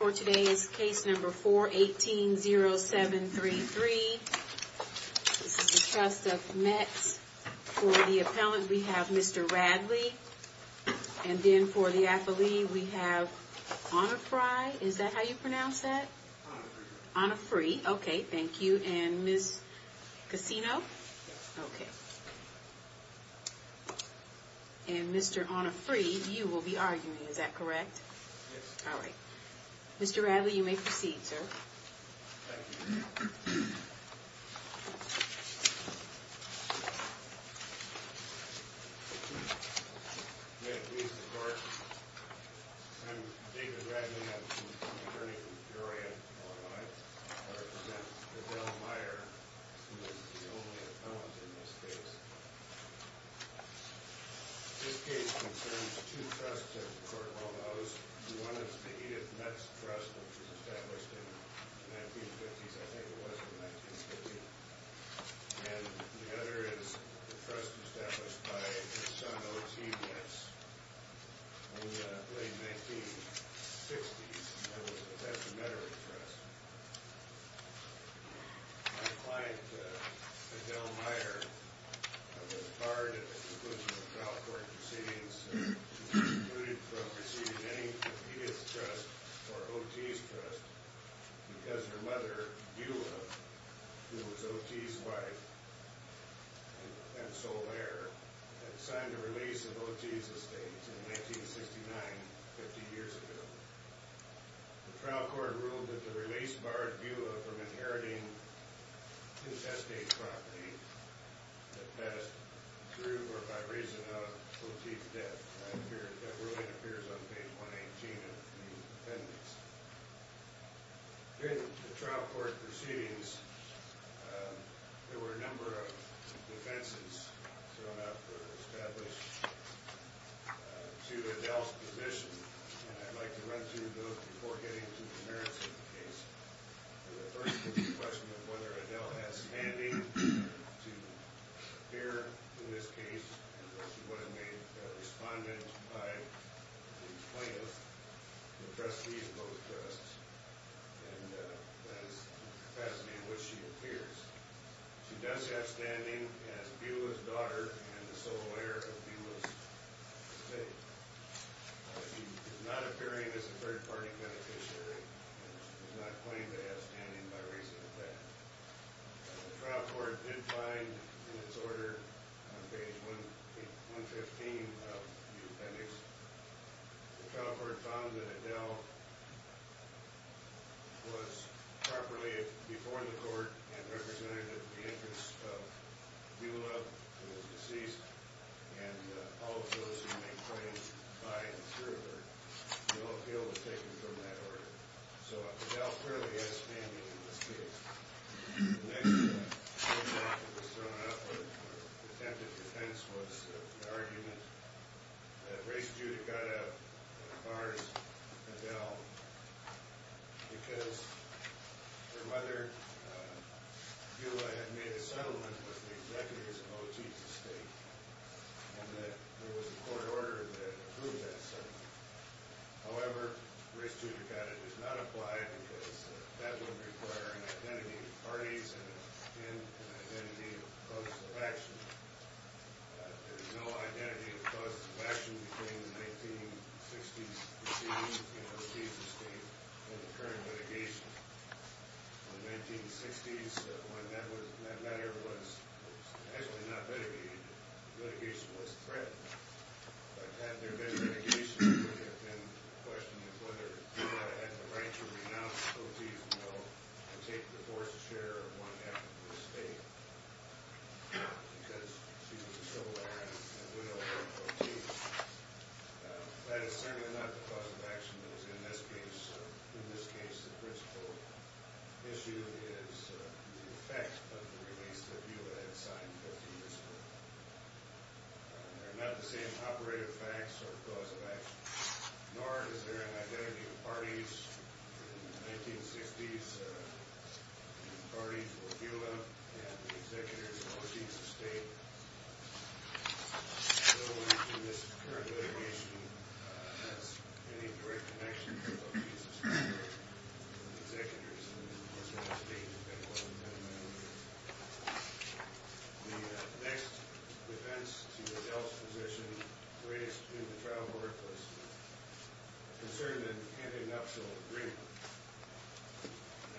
For today's case number 4-18-0733, this is the trust of Metz, for the appellant we have Mr. Radley, and then for the affilee we have Anna Frye, is that how you pronounce that? Anna Frye, okay, thank you. And Ms. Casino? Yes. Okay. And Mr. Anna Frye, you will be arguing, is that correct? Yes. All right. Mr. Radley, you may proceed, sir. Thank you. May it please the Court, I'm David Radley, I'm an attorney from Peoria, Illinois, and I represent Adele Meyer, who is the only appellant in this case. This case concerns two trusts, as the Court well knows. One is the Edith Metz Trust, which was established in the 1950s, I think it was, in 1950. And the other is the trust established by her son, O.T. Metz, in the late 1960s, that was the Metz Mettery Trust. My client, Adele Meyer, was barred at the conclusion of trial court proceedings, including from receiving any Edith's trust or O.T.'s trust, because her mother, Eula, who was O.T.'s wife and sole heir, had signed the release of O.T.'s estate in 1969, 50 years ago. The trial court ruled that the release barred Eula from inheriting the estate property that passed through or by reason of O.T.'s death. That ruling appears on page 118 of the appendix. During the trial court proceedings, there were a number of defenses thrown out that were established to Adele's position, and I'd like to run through those before getting to the merits of the case. The first is the question of whether Adele has standing to appear in this case, and whether she was made a respondent by the plaintiffs, the trustees of both trusts, and that is the capacity in which she appears. She does have standing as Eula's daughter and the sole heir of Eula's estate. She is not appearing as a third-party beneficiary and does not claim to have standing by reason of that. The trial court did find, in its order on page 115 of the appendix, the trial court found that Adele was properly before the court and representative in the interest of Eula, who was deceased, and all of those who may claim by and through her, no appeal was taken from that order. So Adele clearly has standing in this case. The next thing that was thrown out for attempted defense was the argument that race judicata bars Adele because whether Eula had made a settlement with the executives of both chiefs of state, and that there was a court order that approved that settlement. However, race judicata does not apply because that would require an identity of parties and an identity of causes of action. There is no identity of causes of action between the 1960s proceedings in both chiefs of state and the current litigation. In the 1960s, when that matter was actually not litigated, litigation was threatened. But had there been litigation, it would have been a question of whether Eula had the right to renounce both chiefs of state and take the fourth chair of one half of the state because she was a civil lawyer and a widow of both chiefs. That is certainly not the cause of action that is in this case. In this case, the principal issue is the effects of the release of Eula that had signed 15 years ago. They're not the same operative facts or cause of action, nor is there an identity of parties. In the 1960s, the parties were Eula and the executors of both chiefs of state. No one in this current litigation has any direct connection to both chiefs of state or the executors of both chiefs of state. The next defense to Adele's position raised in the trial court was concerned with an antidoxial agreement.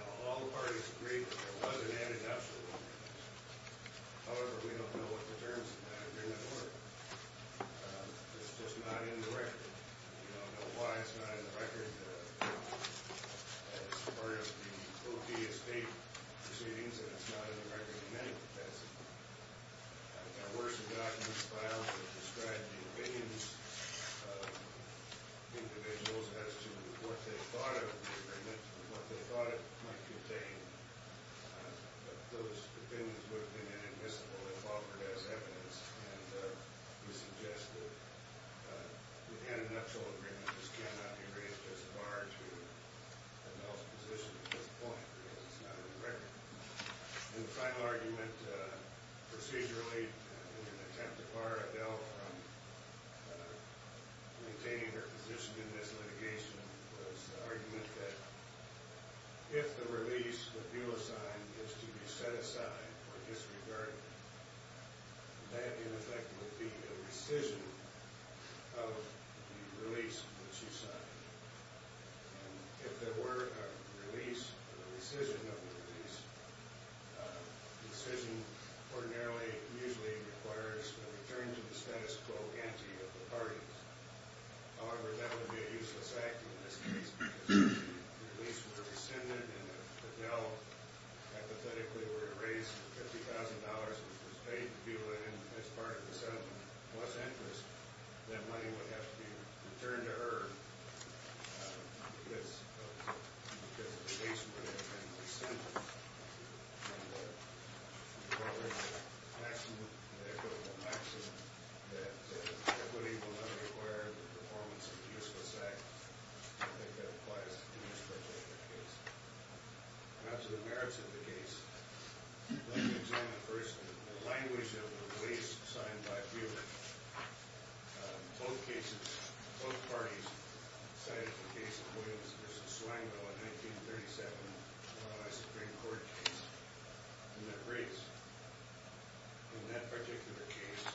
Now, all the parties agreed that there was an antidoxial agreement. However, we don't know what the terms of that agreement were. We don't know why it's not in the record as part of the OD of state proceedings, and it's not in the record in any defense. Our works have gotten this file to describe the opinions of individuals as to what they thought of the agreement and what they thought it might contain. But those opinions would have been inadmissible if offered as evidence. And we suggest that the antidoxial agreement just cannot be raised as far to Adele's position at this point, because it's not in the record. And the final argument, procedurally, in an attempt to bar Adele from maintaining her position in this litigation, was the argument that if the release that you assign is to be set aside or disregarded, that, in effect, would be a rescission of the release which you signed. And if there were a release or a rescission of the release, the rescission ordinarily usually requires a return to the status quo ante of the parties. However, that would be a useless act in this case, because if the release were rescinded and if Adele hypothetically were to raise $50,000 and was paid to do it as part of the settlement plus interest, that money would have to be returned to her because the release would have been rescinded. And the following would echo the maxim that equity will not require the performance of a useless act. I think that applies to each particular case. Now, to the merits of the case, let me examine first the language of the release signed by Buehler. Both parties cited the case of Williams v. Swango, a 1937 U.S. Supreme Court case. In that race, in that particular case,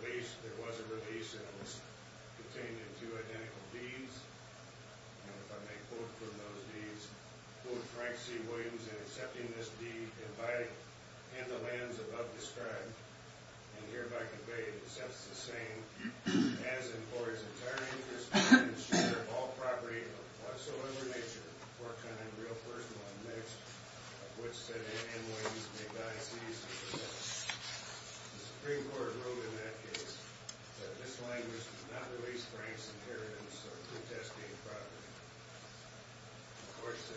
there was a release and it was contained in two identical deeds. And if I may quote from those deeds, quote, Of course, they quote,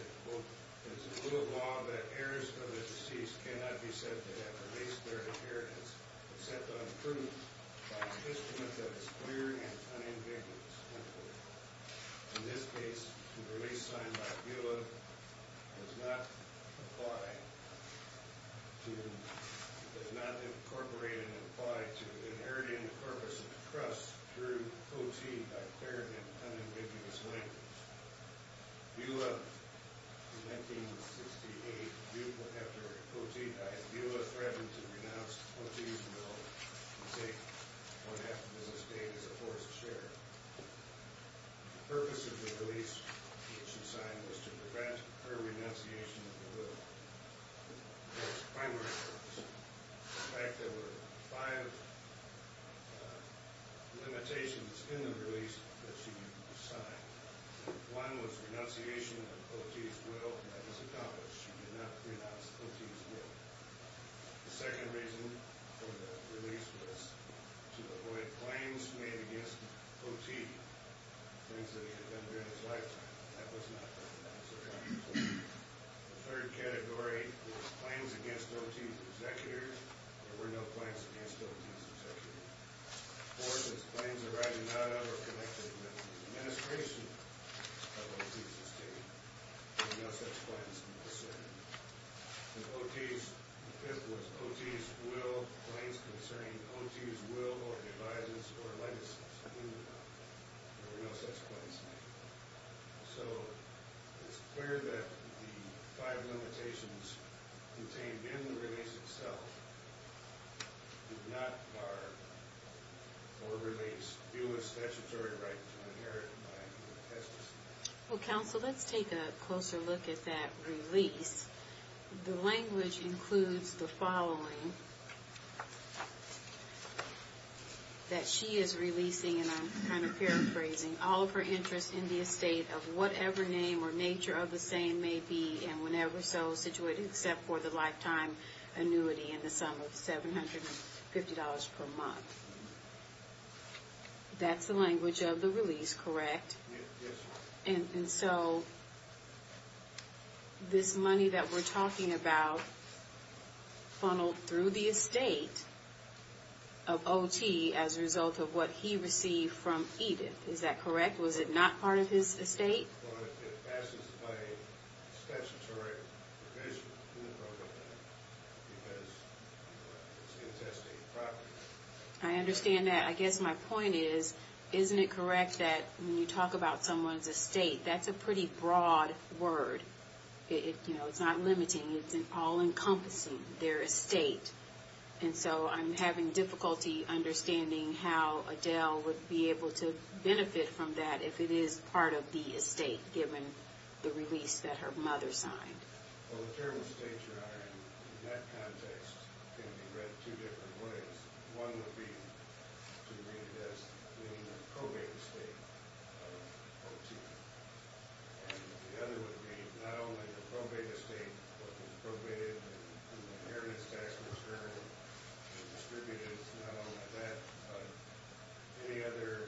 Buehler, in 1968, Buehler threatened to renounce the Quotidien bill and take one-half of the business day as a forced share. The purpose of the release that she signed was to prevent her renunciation of the will. That was the primary purpose. In fact, there were five limitations in the release that she signed. One was renunciation of Quotidien's will. That was accomplished. She did not renounce Quotidien's will. The second reason for the release was to avoid claims made against Quotidien, things that he had done during his lifetime. That was not the purpose of the release. The third category was claims against O.T.'s executor. There were no claims against O.T.'s executor. The fourth was claims arising out of or connected with the administration of O.T.'s estate. There were no such claims concerned. And O.T.'s, the fifth was O.T.'s will, claims concerning O.T.'s will or devices or legacies. There were no such claims made. So it's clear that the five limitations contained in the release itself did not bar or release Buist's statutory right to inherit by O.T. Well, counsel, let's take a closer look at that release. The language includes the following that she is releasing, and I'm kind of paraphrasing, all of her interest in the estate of whatever name or nature of the same may be, and whenever so, situated except for the lifetime annuity in the sum of $750 per month. That's the language of the release, correct? Yes. And so this money that we're talking about funneled through the estate of O.T. as a result of what he received from Edith. Is that correct? Was it not part of his estate? Well, it passes by a statutory provision in the program, because it's intestate property. I understand that. I guess my point is, isn't it correct that when you talk about someone's estate, that's a pretty broad word? You know, it's not limiting. It's all-encompassing, their estate. And so I'm having difficulty understanding how Adele would be able to benefit from that if it is part of the estate, given the release that her mother signed. Well, the term estate, Your Honor, in that context can be read two different ways. One would be to read it as the probate estate of O.T. And the other would be not only the probate estate, but the probated inheritance tax return, the distributives, not only that, but any other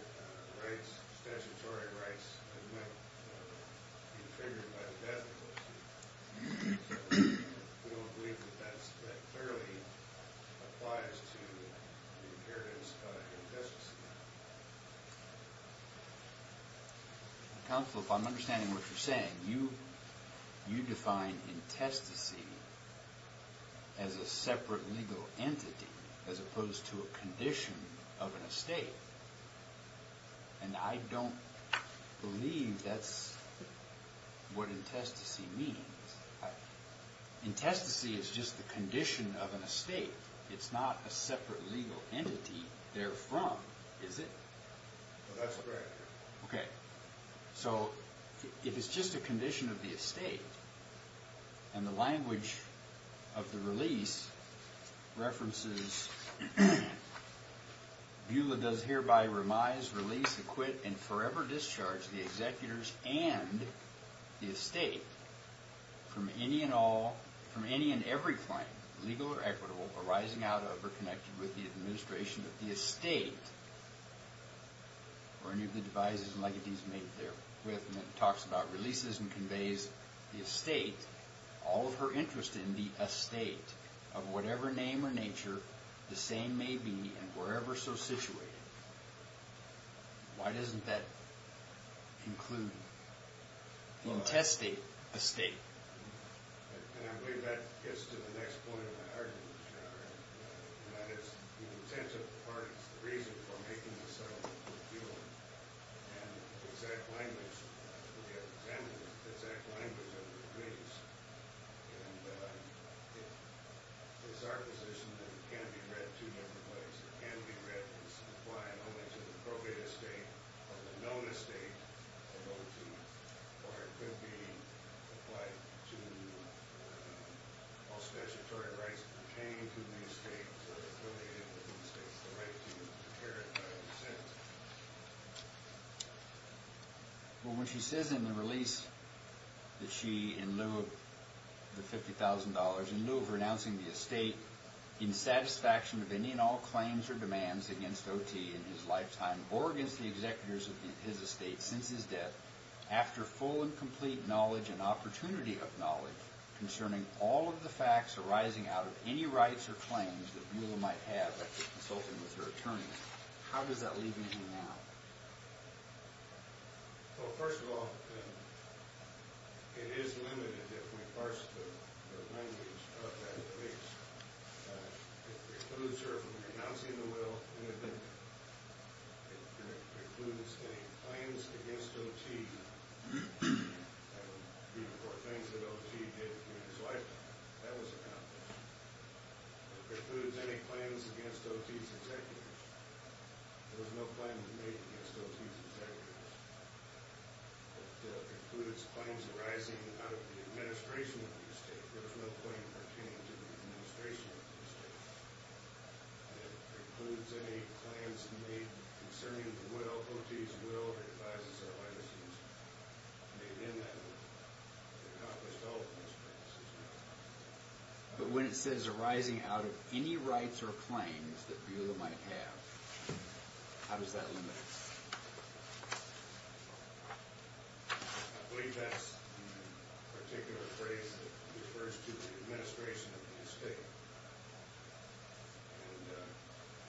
rights, statutory rights, that might be triggered by the death of O.T. So we don't believe that that clearly applies to the inheritance of the intestacy. Counsel, if I'm understanding what you're saying, you define intestacy as a separate legal entity, as opposed to a condition of an estate. And I don't believe that's what intestacy means. Intestacy is just the condition of an estate. It's not a separate legal entity therefrom, is it? That's correct. Okay. So if it's just a condition of the estate, and the language of the release references, Beulah does hereby remise, release, acquit, and forever discharge the executors and the estate from any and all, from any and every claim, legal or equitable, arising out of or connected with the administration of the estate, or any of the devices and legacies made therewith. And it talks about releases and conveys the estate, all of her interest in the estate of whatever name or nature, the same may be, and wherever so situated. Why doesn't that conclude? Intestate estate. And I believe that gets to the next point of the argument, and that is the intent of the parties, the reason for making the settlement with Beulah, and the exact language of the claims. And it's our position that it can't be read two different ways. It can be read as applying only to the appropriate estate, or the known estate of O.T., or it could be applied to all statutory rights pertaining to the estate, or affiliated with the estate, the right to inherit by consent. Well, when she says in the release that she, in lieu of the $50,000, in lieu of renouncing the estate, in satisfaction of any and all claims or demands against O.T. in his lifetime, or against the executors of his estate since his death, after full and complete knowledge and opportunity of knowledge concerning all of the facts arising out of any rights or claims that Beulah might have after consulting with her attorney, how does that leave me now? Well, first of all, it is limited if we parse the language of that release. It precludes her from renouncing the will, and it precludes any claims against O.T. That would be the four things that O.T. did in his life. That was about that. It precludes any claims against O.T.'s executors. There was no claim to make against O.T.'s executors. It precludes claims arising out of the administration of the estate. There was no claim pertaining to the administration of the estate. It precludes any claims made concerning the will, O.T.'s will, or advises or licenses made in that will. It accomplished all of those things. But when it says arising out of any rights or claims that Beulah might have, how does that limit us? I believe that's the particular phrase that refers to the administration of the estate. And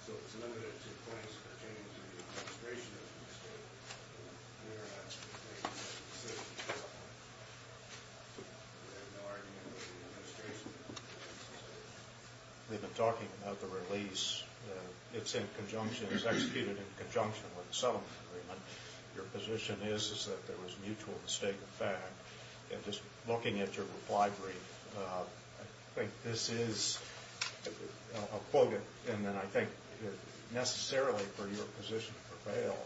so it's limited to claims pertaining to the administration of the estate. We are not to make that decision at this point. We have no argument with the administration of the estate. We've been talking about the release. It's in conjunction, it's executed in conjunction with the settlement agreement. Your position is that there was mutual mistake of fact. And just looking at your reply brief, I think this is, I'll quote it, and then I think necessarily for your position to prevail,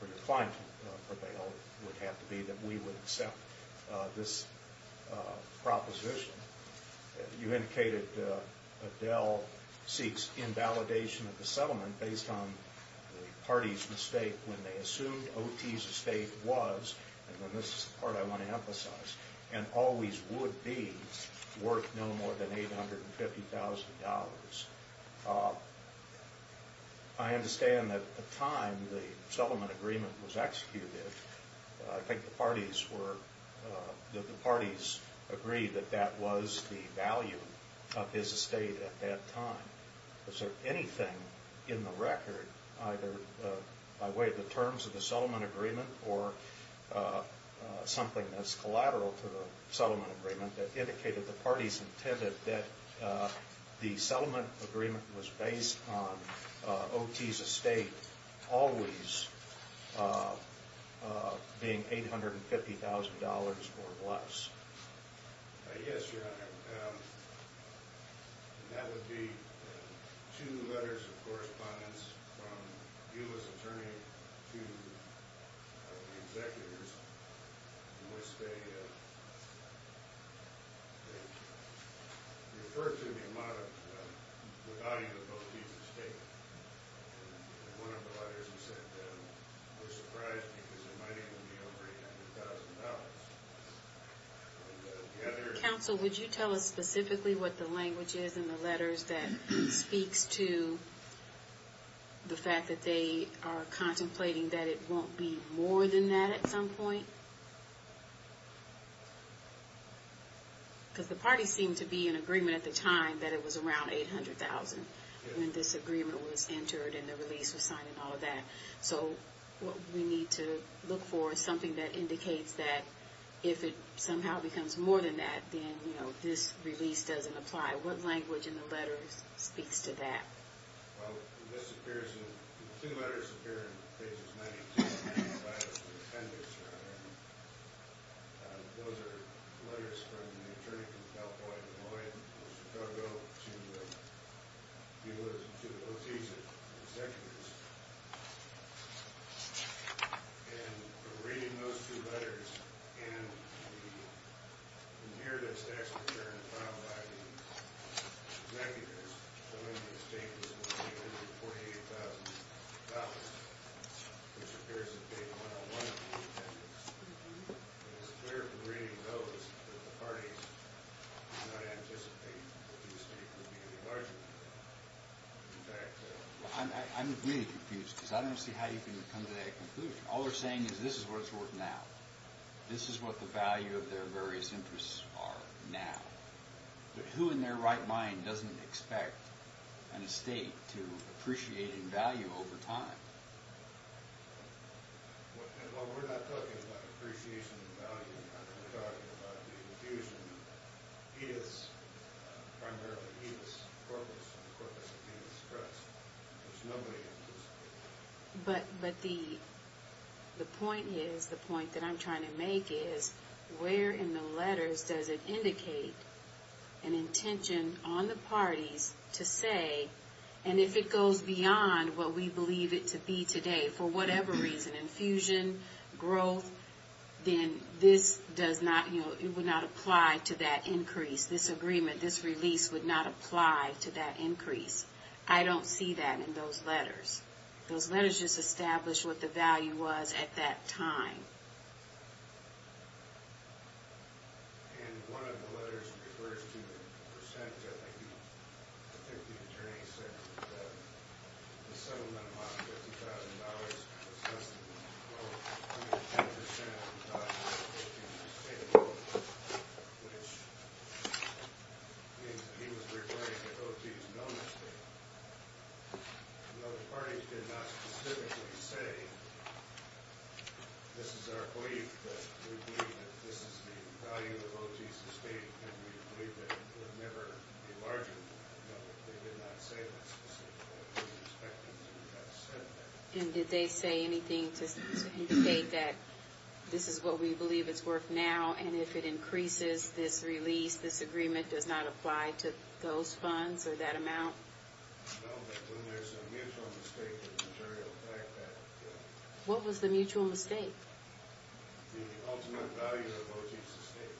for your client to prevail, would have to be that we would accept this proposition. You indicated Adele seeks invalidation of the settlement based on the party's mistake when they assumed O.T.'s estate was, and this is the part I want to emphasize, and always would be worth no more than $850,000. I understand that at the time the settlement agreement was executed, I think the parties agreed that that was the value of his estate at that time. Is there anything in the record, either by way of the terms of the settlement agreement or something that's collateral to the settlement agreement, that indicated the parties intended that the settlement agreement was based on O.T.'s estate always being $850,000 or less? Yes, Your Honor. That would be two letters of correspondence from Eula's attorney to the executors in which they referred to the amount of, the value of both Eula's estate. One of the letters you sent them was surprised because it might even be over $800,000. Counsel, would you tell us specifically what the language is in the letters that speaks to the fact that they are contemplating that it won't be more than that at some point? Because the parties seemed to be in agreement at the time that it was around $800,000 when this agreement was entered and the release was signed and all that. So what we need to look for is something that indicates that if it somehow becomes more than that, then this release doesn't apply. What language in the letters speaks to that? Well, this appears in, two letters appear in pages 92 and 95 of the appendix, Your Honor. Those are letters from the attorney from California, Illinois, and Chicago to Eula's, to Otis' executors. And from reading those two letters and the nearness tax return filed by the executors, showing the estate was worth $848,000, which appears in page 101 of the appendix, it is clear from reading those that the parties did not anticipate that the estate would be any larger. I'm really confused because I don't see how you can come to that conclusion. All they're saying is this is what it's worth now. This is what the value of their various interests are now. But who in their right mind doesn't expect an estate to appreciate in value over time? Well, we're not talking about appreciation in value. We're talking about the infusion. It is primarily, it is the corpus, the corpus of the express. There's nobody in this case. But the point is, the point that I'm trying to make is, where in the letters does it indicate an intention on the parties to say, and if it goes beyond what we believe it to be today, for whatever reason, infusion, growth, then this does not, you know, it would not apply to that increase. This agreement, this release would not apply to that increase. I don't see that in those letters. Those letters just establish what the value was at that time. And one of the letters refers to the percent that the attorney said that the settlement amount of $50,000 was less than 12.10% of the value of the estate alone, which means that he was requiring that those be no mistakes. No, the parties did not specifically say, this is our belief that we believe that this is the value of OG's estate, and we believe that it would never be larger than that. No, they did not say that specifically. We're expecting them to have said that. And did they say anything to indicate that this is what we believe it's worth now, and if it increases this release, this agreement does not apply to those funds or that amount? No, but when there's a mutual mistake, the majority of the fact that, yeah. What was the mutual mistake? The ultimate value of OG's estate.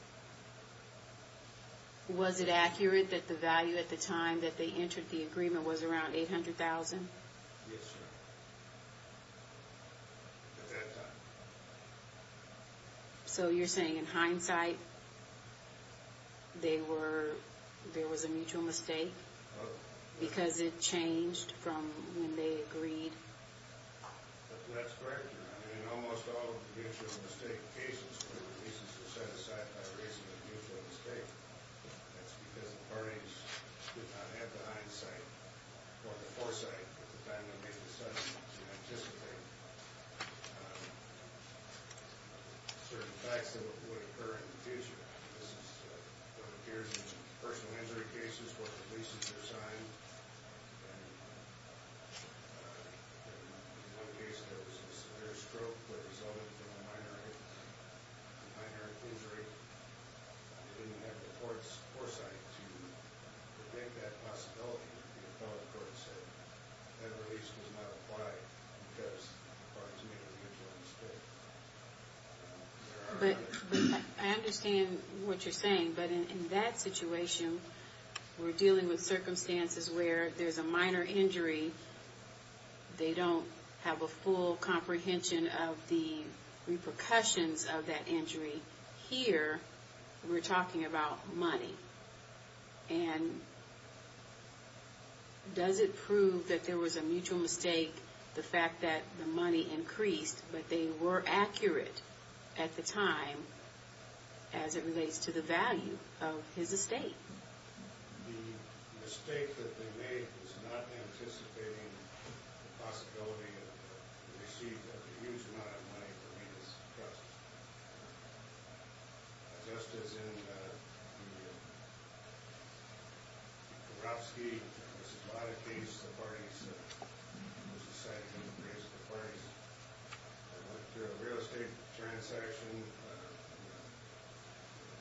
Was it accurate that the value at the time that they entered the agreement was around $800,000? Yes, ma'am. At that time. So you're saying in hindsight, there was a mutual mistake? Because it changed from when they agreed? That's correct. In almost all mutual mistake cases, when the reasons were set aside by a reasonable mutual mistake, that's because the parties did not have the hindsight or the foresight at the time they made the settlement to anticipate. Certain facts that would occur in the future. This is what appears in personal injury cases where the leases are signed. In one case, there was a severe stroke that resulted from a minor injury. They didn't have the foresight to make that possibility. The appellate court said that release was not applied because the parties made a mutual mistake. I understand what you're saying, but in that situation, we're dealing with circumstances where there's a minor injury. They don't have a full comprehension of the repercussions of that injury. Here, we're talking about money. And does it prove that there was a mutual mistake, the fact that the money increased, but they were accurate at the time as it relates to the value of his estate? The mistake that they made was not anticipating the possibility of receiving a huge amount of money for Rita's process. Just as in the Korofsky case, there were a lot of cases where the parties decided to increase the price. I went through a real estate transaction. The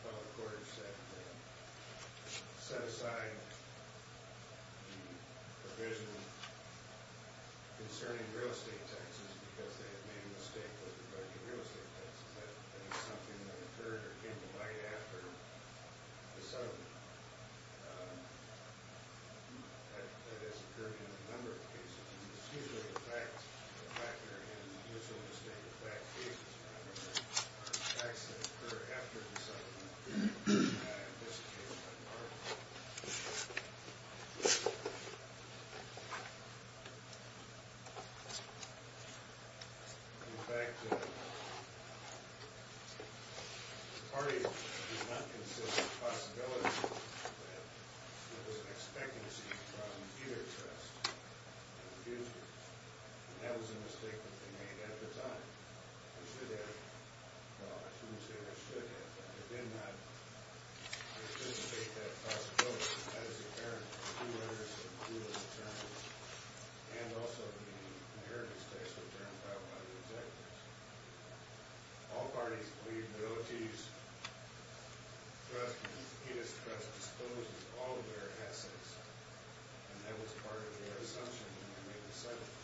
appellate court said they set aside the provision concerning real estate taxes because they had made a mistake with the budget real estate taxes. That is something that occurred or came to light after the settlement. That has occurred in a number of cases. It's usually the fact that there was a mutual mistake, the fact that there were facts that occurred after the settlement. In this case, it was not an argument. In fact, the parties did not consider the possibility that there was an expectancy from either trust in the future. That was a mistake that they made at the time. They did not anticipate that possibility. That is apparent in the two letters that include those terms, and also in the inheritance tax return filed by the executives. All parties believe that the OTs trust in Rita's trust discloses all of their assets, and that was part of their assumption when they made the settlement.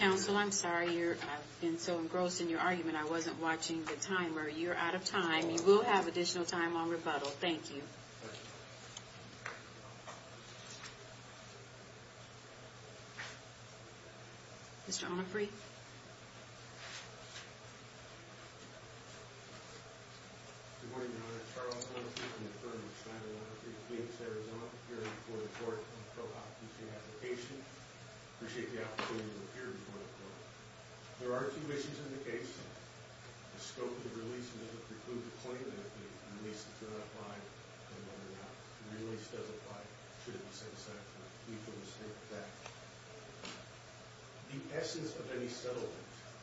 Counsel, I'm sorry. I've been so engrossed in your argument, I wasn't watching the timer. You're out of time. You will have additional time on rebuttal. Thank you. Mr. Onufry? Good morning, Your Honor. Charles Onufry, an attorney with Schneider Law Firm. I'm here before the court on a co-op teaching application. I appreciate the opportunity to appear before the court. There are two issues in the case. The scope of the release may preclude the claim that the release does not apply, and whether or not the release does apply should it be set aside for a mutual mistake. The essence of any settlement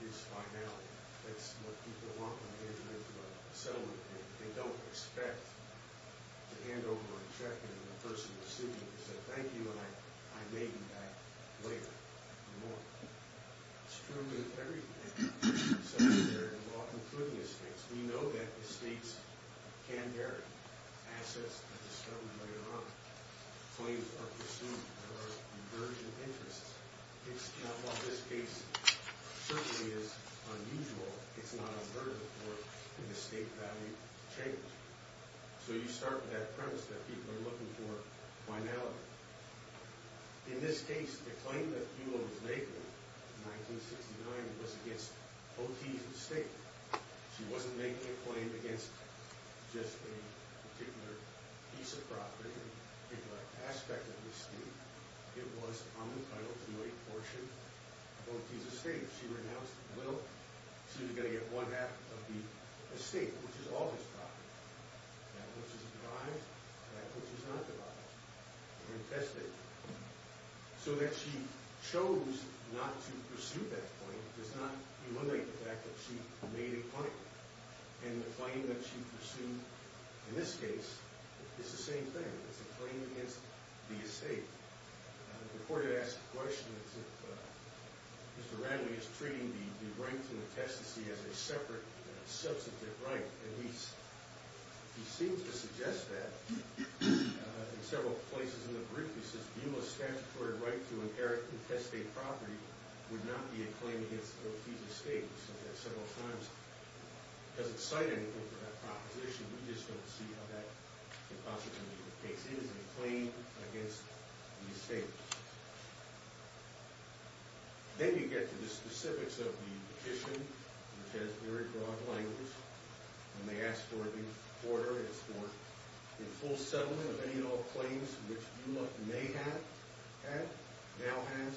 is finality. That's what people want when they enter into a settlement. They don't expect to hand over a check to the person receiving it and say, Thank you, and I may be back later in the morning. It's true in every settlement area of law, including estates. We know that estates can bear assets that are discovered later on. Claims are pursued, there are divergent interests. While this case certainly is unusual, it's not unheard of for an estate value to change. So you start with that premise that people are looking for finality. In this case, the claim that Buelow was naked in 1969 was against O.T.'s estate. She wasn't making a claim against just a particular piece of property, a particular aspect of the estate. It was unentitled to a portion of O.T.'s estate. She renounced the will. She was going to get one-half of the estate, which is all his property. That which is devised, that which is not devised. So that she chose not to pursue that claim does not illuminate the fact that she made a claim. And the claim that she pursued in this case is the same thing. It's a claim against the estate. The court had asked a question as to if Mr. Radley is treating the right from the test to see as a separate, substantive right. And he seems to suggest that in several places in the brief. He says, Buelow's statutory right to inherit and testate property would not be a claim against O.T.'s estate. We've said that several times. It doesn't cite anything for that proposition. We just don't see how that impossibility takes in as a claim against the estate. Then you get to the specifics of the petition, which has very broad language. And they ask for the order. It's for a full settlement of any and all claims which Buelow may have had, now has,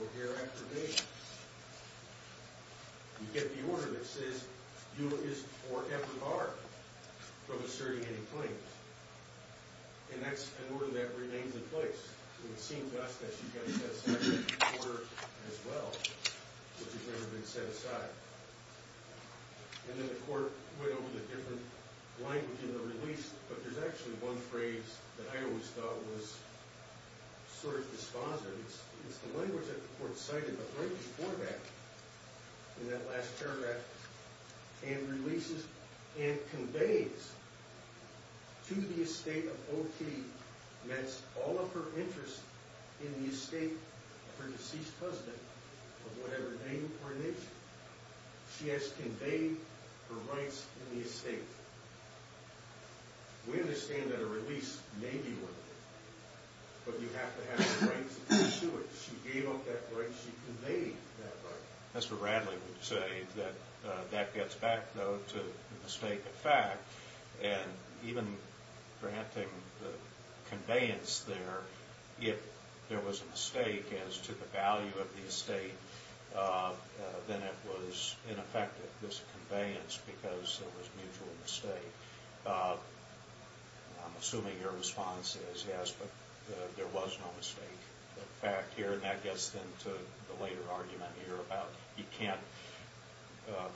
or hereafter may have. You get the order that says Buelow is forever barred from asserting any claims. And that's an order that remains in place. It seems to us that she's got to set aside that order as well, which has never been set aside. And then the court went over the different language in the release. But there's actually one phrase that I always thought was sort of dispositive. It's the language that the court cited, but right before that, in that last paragraph, and releases and conveys to the estate of O.T. that all of her interest in the estate of her deceased husband, of whatever name or nation, she has conveyed her rights in the estate. We understand that a release may be worth it. But you have to have the rights to pursue it. She gave up that right. She conveyed that right. Mr. Bradley would say that that gets back, though, to the mistake of fact. And even granting the conveyance there, if there was a mistake as to the value of the estate, then it was ineffective, this conveyance, because it was a mutual mistake. I'm assuming your response is yes, but there was no mistake of fact here. And that gets into the later argument here about you can't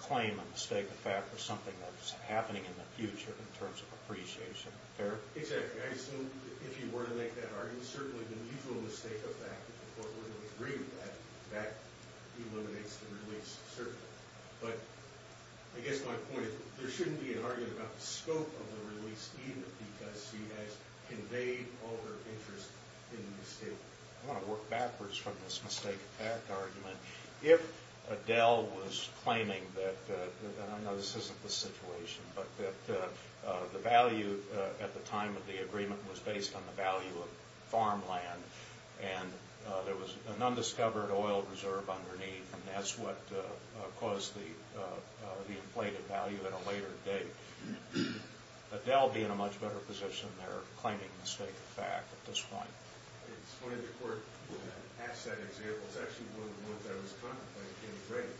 claim a mistake of fact for something that's happening in the future in terms of appreciation. Eric? Exactly. I assume if you were to make that argument, certainly the mutual mistake of fact, if the court were to agree with that, that eliminates the release, certainly. But I guess my point is there shouldn't be an argument about the scope of the release, even because she has conveyed all her interest in the estate. I want to work backwards from this mistake of fact argument. If Adele was claiming that, and I know this isn't the situation, but that the value at the time of the agreement was based on the value of farmland, and there was an undiscovered oil reserve underneath, and that's what caused the inflated value at a later date, Adele would be in a much better position there claiming mistake of fact at this point. It's funny the court asked that example. It's actually one of the ones I was contemplating getting ready.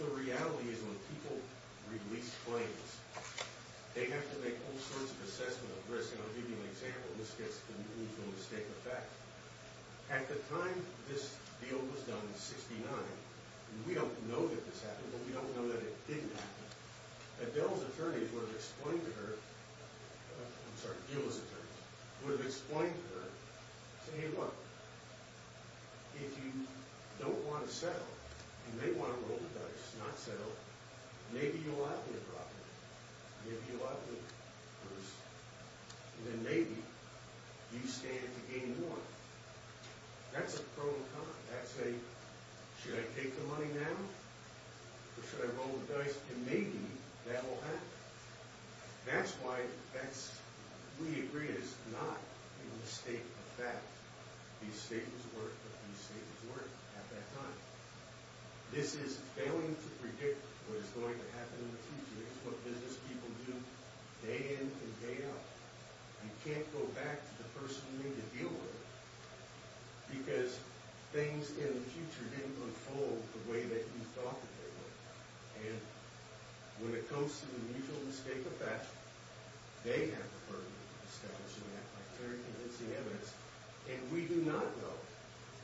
The reality is when people release claims, they have to make all sorts of assessment of risk. And I'll give you an example. This gets the mutual mistake of fact. At the time this deal was done in 1969, and we don't know that this happened, but we don't know that it didn't happen, Adele's attorney would have explained to her, I'm sorry, Gill's attorney, would have explained to her, said, Hey, look, if you don't want to settle and they want to roll the dice and not settle, maybe you'll have the property, maybe you'll have the purse, and then maybe you stand to gain more. That's a pro and con. That's a, should I take the money now or should I roll the dice? And maybe that will happen. That's why that's, we agree it's not a mistake of fact. The mistake was worth it. The mistake was worth it at that time. This is failing to predict what is going to happen in the future. It's what business people do day in and day out. You can't go back to the person who made the deal with it because things in the future didn't unfold the way that you thought that they would. And when it comes to the mutual mistake of fact, they have the authority to establish and act by clear and convincing evidence, and we do not know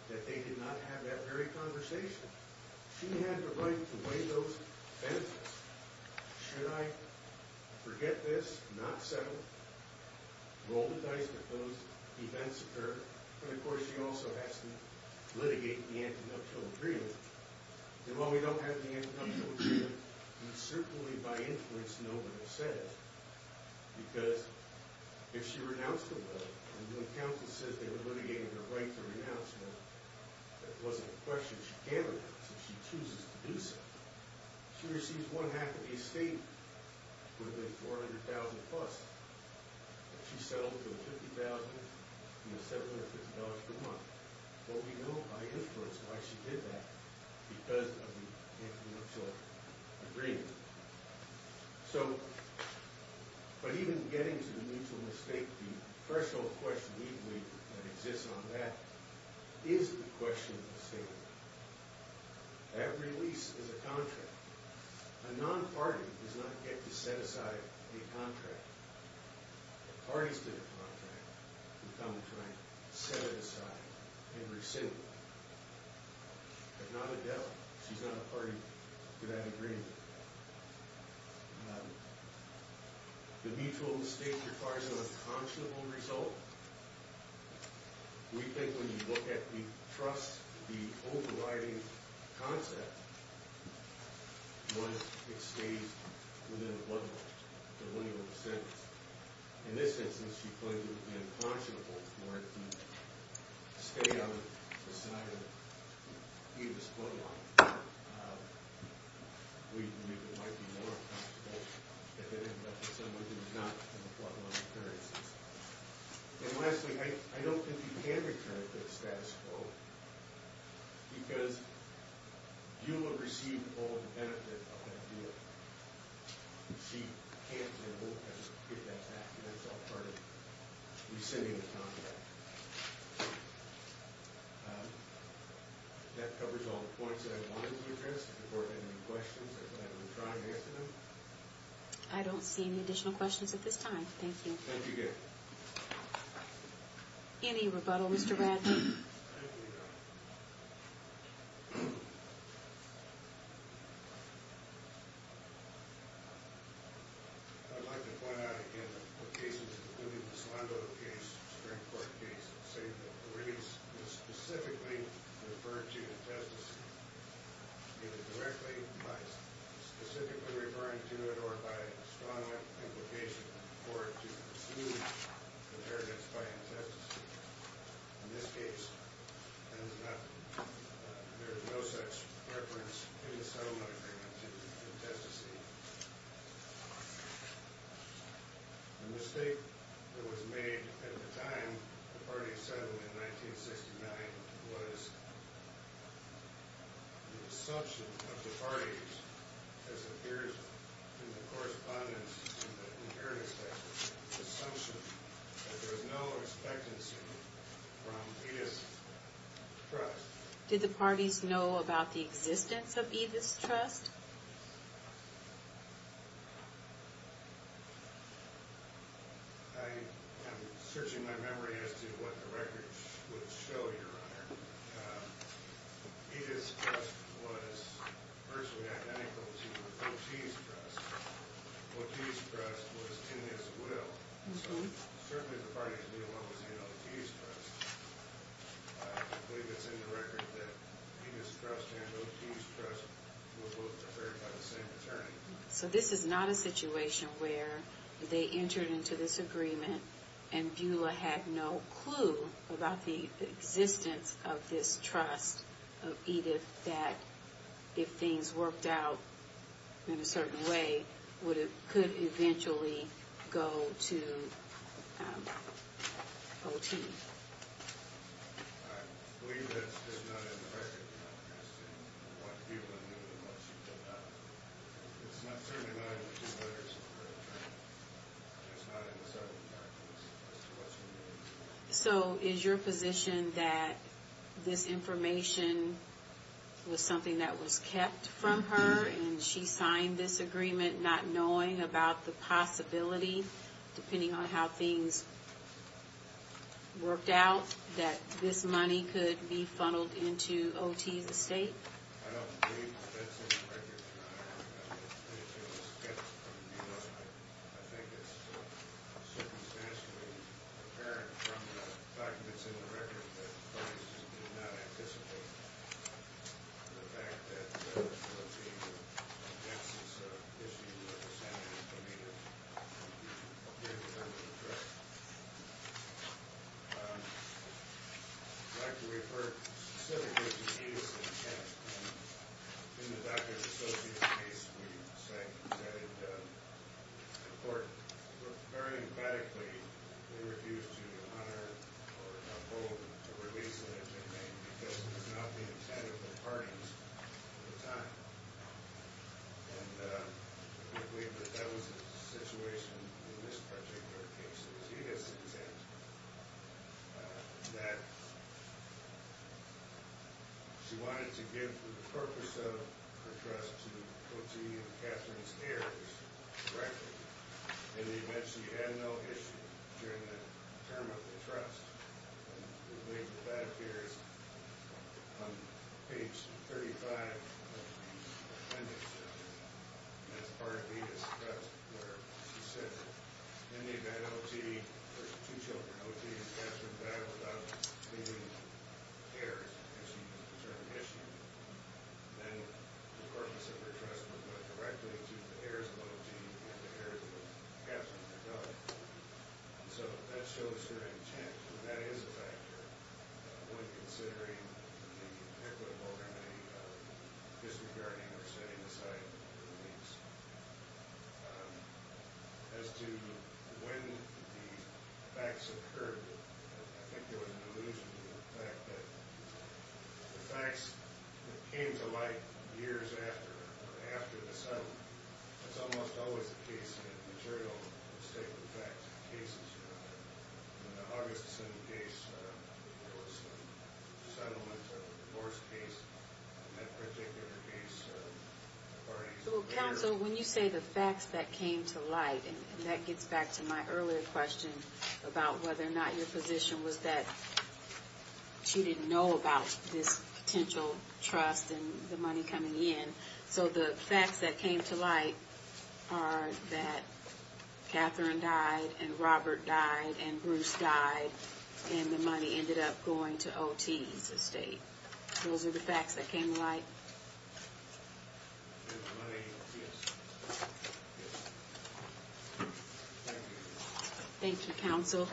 that they did not have that very conversation. She had the right to weigh those benefits. Should I forget this, not settle, roll the dice if those events occur? But, of course, she also has to litigate the antidote to the agreement. And while we don't have the antidote to the agreement, we certainly by inference know what it says because if she renounced the loan, and when counsel says they were litigating her right to renounce the loan, it wasn't a question she can't renounce it if she chooses to do so. She receives one half of the estate with a $400,000 plus. She settles for $50,000, you know, $750 per month. But we know by influence why she did that because of the influential agreement. So, but even getting to the mutual mistake, the threshold question we believe that exists on that is the question of the statement. Every lease is a contract. A non-party does not get to set aside a contract. A party's been a contract. We found a contract, set it aside, and rescinded it. If not Adele, she's not a party to that agreement. The mutual mistake requires an unconscionable result. We think when you look at the trust, the overriding concept, one, it stays within one delineal sentence. In this instance, she claims it would be unconscionable for it to stay on the side of either the split line. We believe it might be more comfortable if it ended up with somebody who's not on the split line of currency. And lastly, I don't think you can return to the status quo because you will receive all the benefit of that deal. She can't and won't get that back. That's all part of rescinding the contract. That covers all the points that I wanted to address. If there were any questions, I would try and answer them. I don't see any additional questions at this time. Thank you. Thank you again. Any rebuttal, Mr. Radley? Thank you, Your Honor. I'd like to point out again that the cases, including the Solando case, Supreme Court case, say that the release was specifically referred to the testimony, either directly by specifically referring to it or by strong implication for it to exclude the tariffs by the testimony. In this case, there is no such reference in the settlement agreement to the testimony. The mistake that was made at the time the parties settled in 1969 was the assumption of the parties, as it appears in the correspondence, the assumption that there was no expectancy from Edith's trust. Did the parties know about the existence of Edith's trust? I am searching my memory as to what the records would show, Your Honor. Edith's trust was virtually identical to the Foti's trust. Foti's trust was in his will. So certainly the parties knew what was in Oti's trust. I believe it's in the record that Edith's trust and Oti's trust were both prepared by the same attorney. So this is not a situation where they entered into this agreement and Beulah had no clue about the existence of this trust of Edith and that if things worked out in a certain way, it could eventually go to Oti. I believe that it's not in the record, Your Honor, as to what Beulah knew and what she did not. It's not certainly not in the two letters of the record, Your Honor. It's not in the settlement documents as to what she knew. So is your position that this information was something that was kept from her and she signed this agreement not knowing about the possibility, depending on how things worked out, that this money could be funneled into Oti's estate? I don't believe that's in the record, Your Honor. I think it was kept from Beulah. I think it's circumstantially apparent from the documents in the record that the parties did not anticipate the fact that one of the evidence issues represented in the agreement would appear to have been addressed. I'd like to refer specifically to Edith's intent. In the Doctor's Associates case, we said in court very emphatically they refused to honor or uphold the release of Edith May because it was not the intent of the parties at the time. And we believe that that was the situation in this particular case. It was Edith's intent that she wanted to give the purpose of her trust to Oti and Catherine's heirs directly. In the event she had no issue during the term of the trust, we believe that that appears on page 35 of the appendix. That's part of Edith's trust where she said, in the event Oti or two children, Oti and Catherine died without leaving the heirs, because she was a determined issue, then the purpose of her trust would go directly to the heirs of Oti and the heirs of Catherine. So that shows her intent, and that is a factor when considering the equitable remedy of disregarding or setting aside the release. As to when the facts occurred, I think there was an allusion to the fact that the facts that came to light years after the settlement, it's almost always the case in the material statement of the facts of the cases. In the Augustuson case, there was the settlement of the divorce case, and that particular case, the parties. So, counsel, when you say the facts that came to light, and that gets back to my earlier question about whether or not your position was that she didn't know about this potential trust and the money coming in. So the facts that came to light are that Catherine died and Robert died and Bruce died, and the money ended up going to Oti's estate. Those are the facts that came to light. Thank you. Thank you, counsel.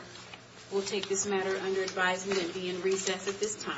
We'll take this matter under advisement and be in recess at this time.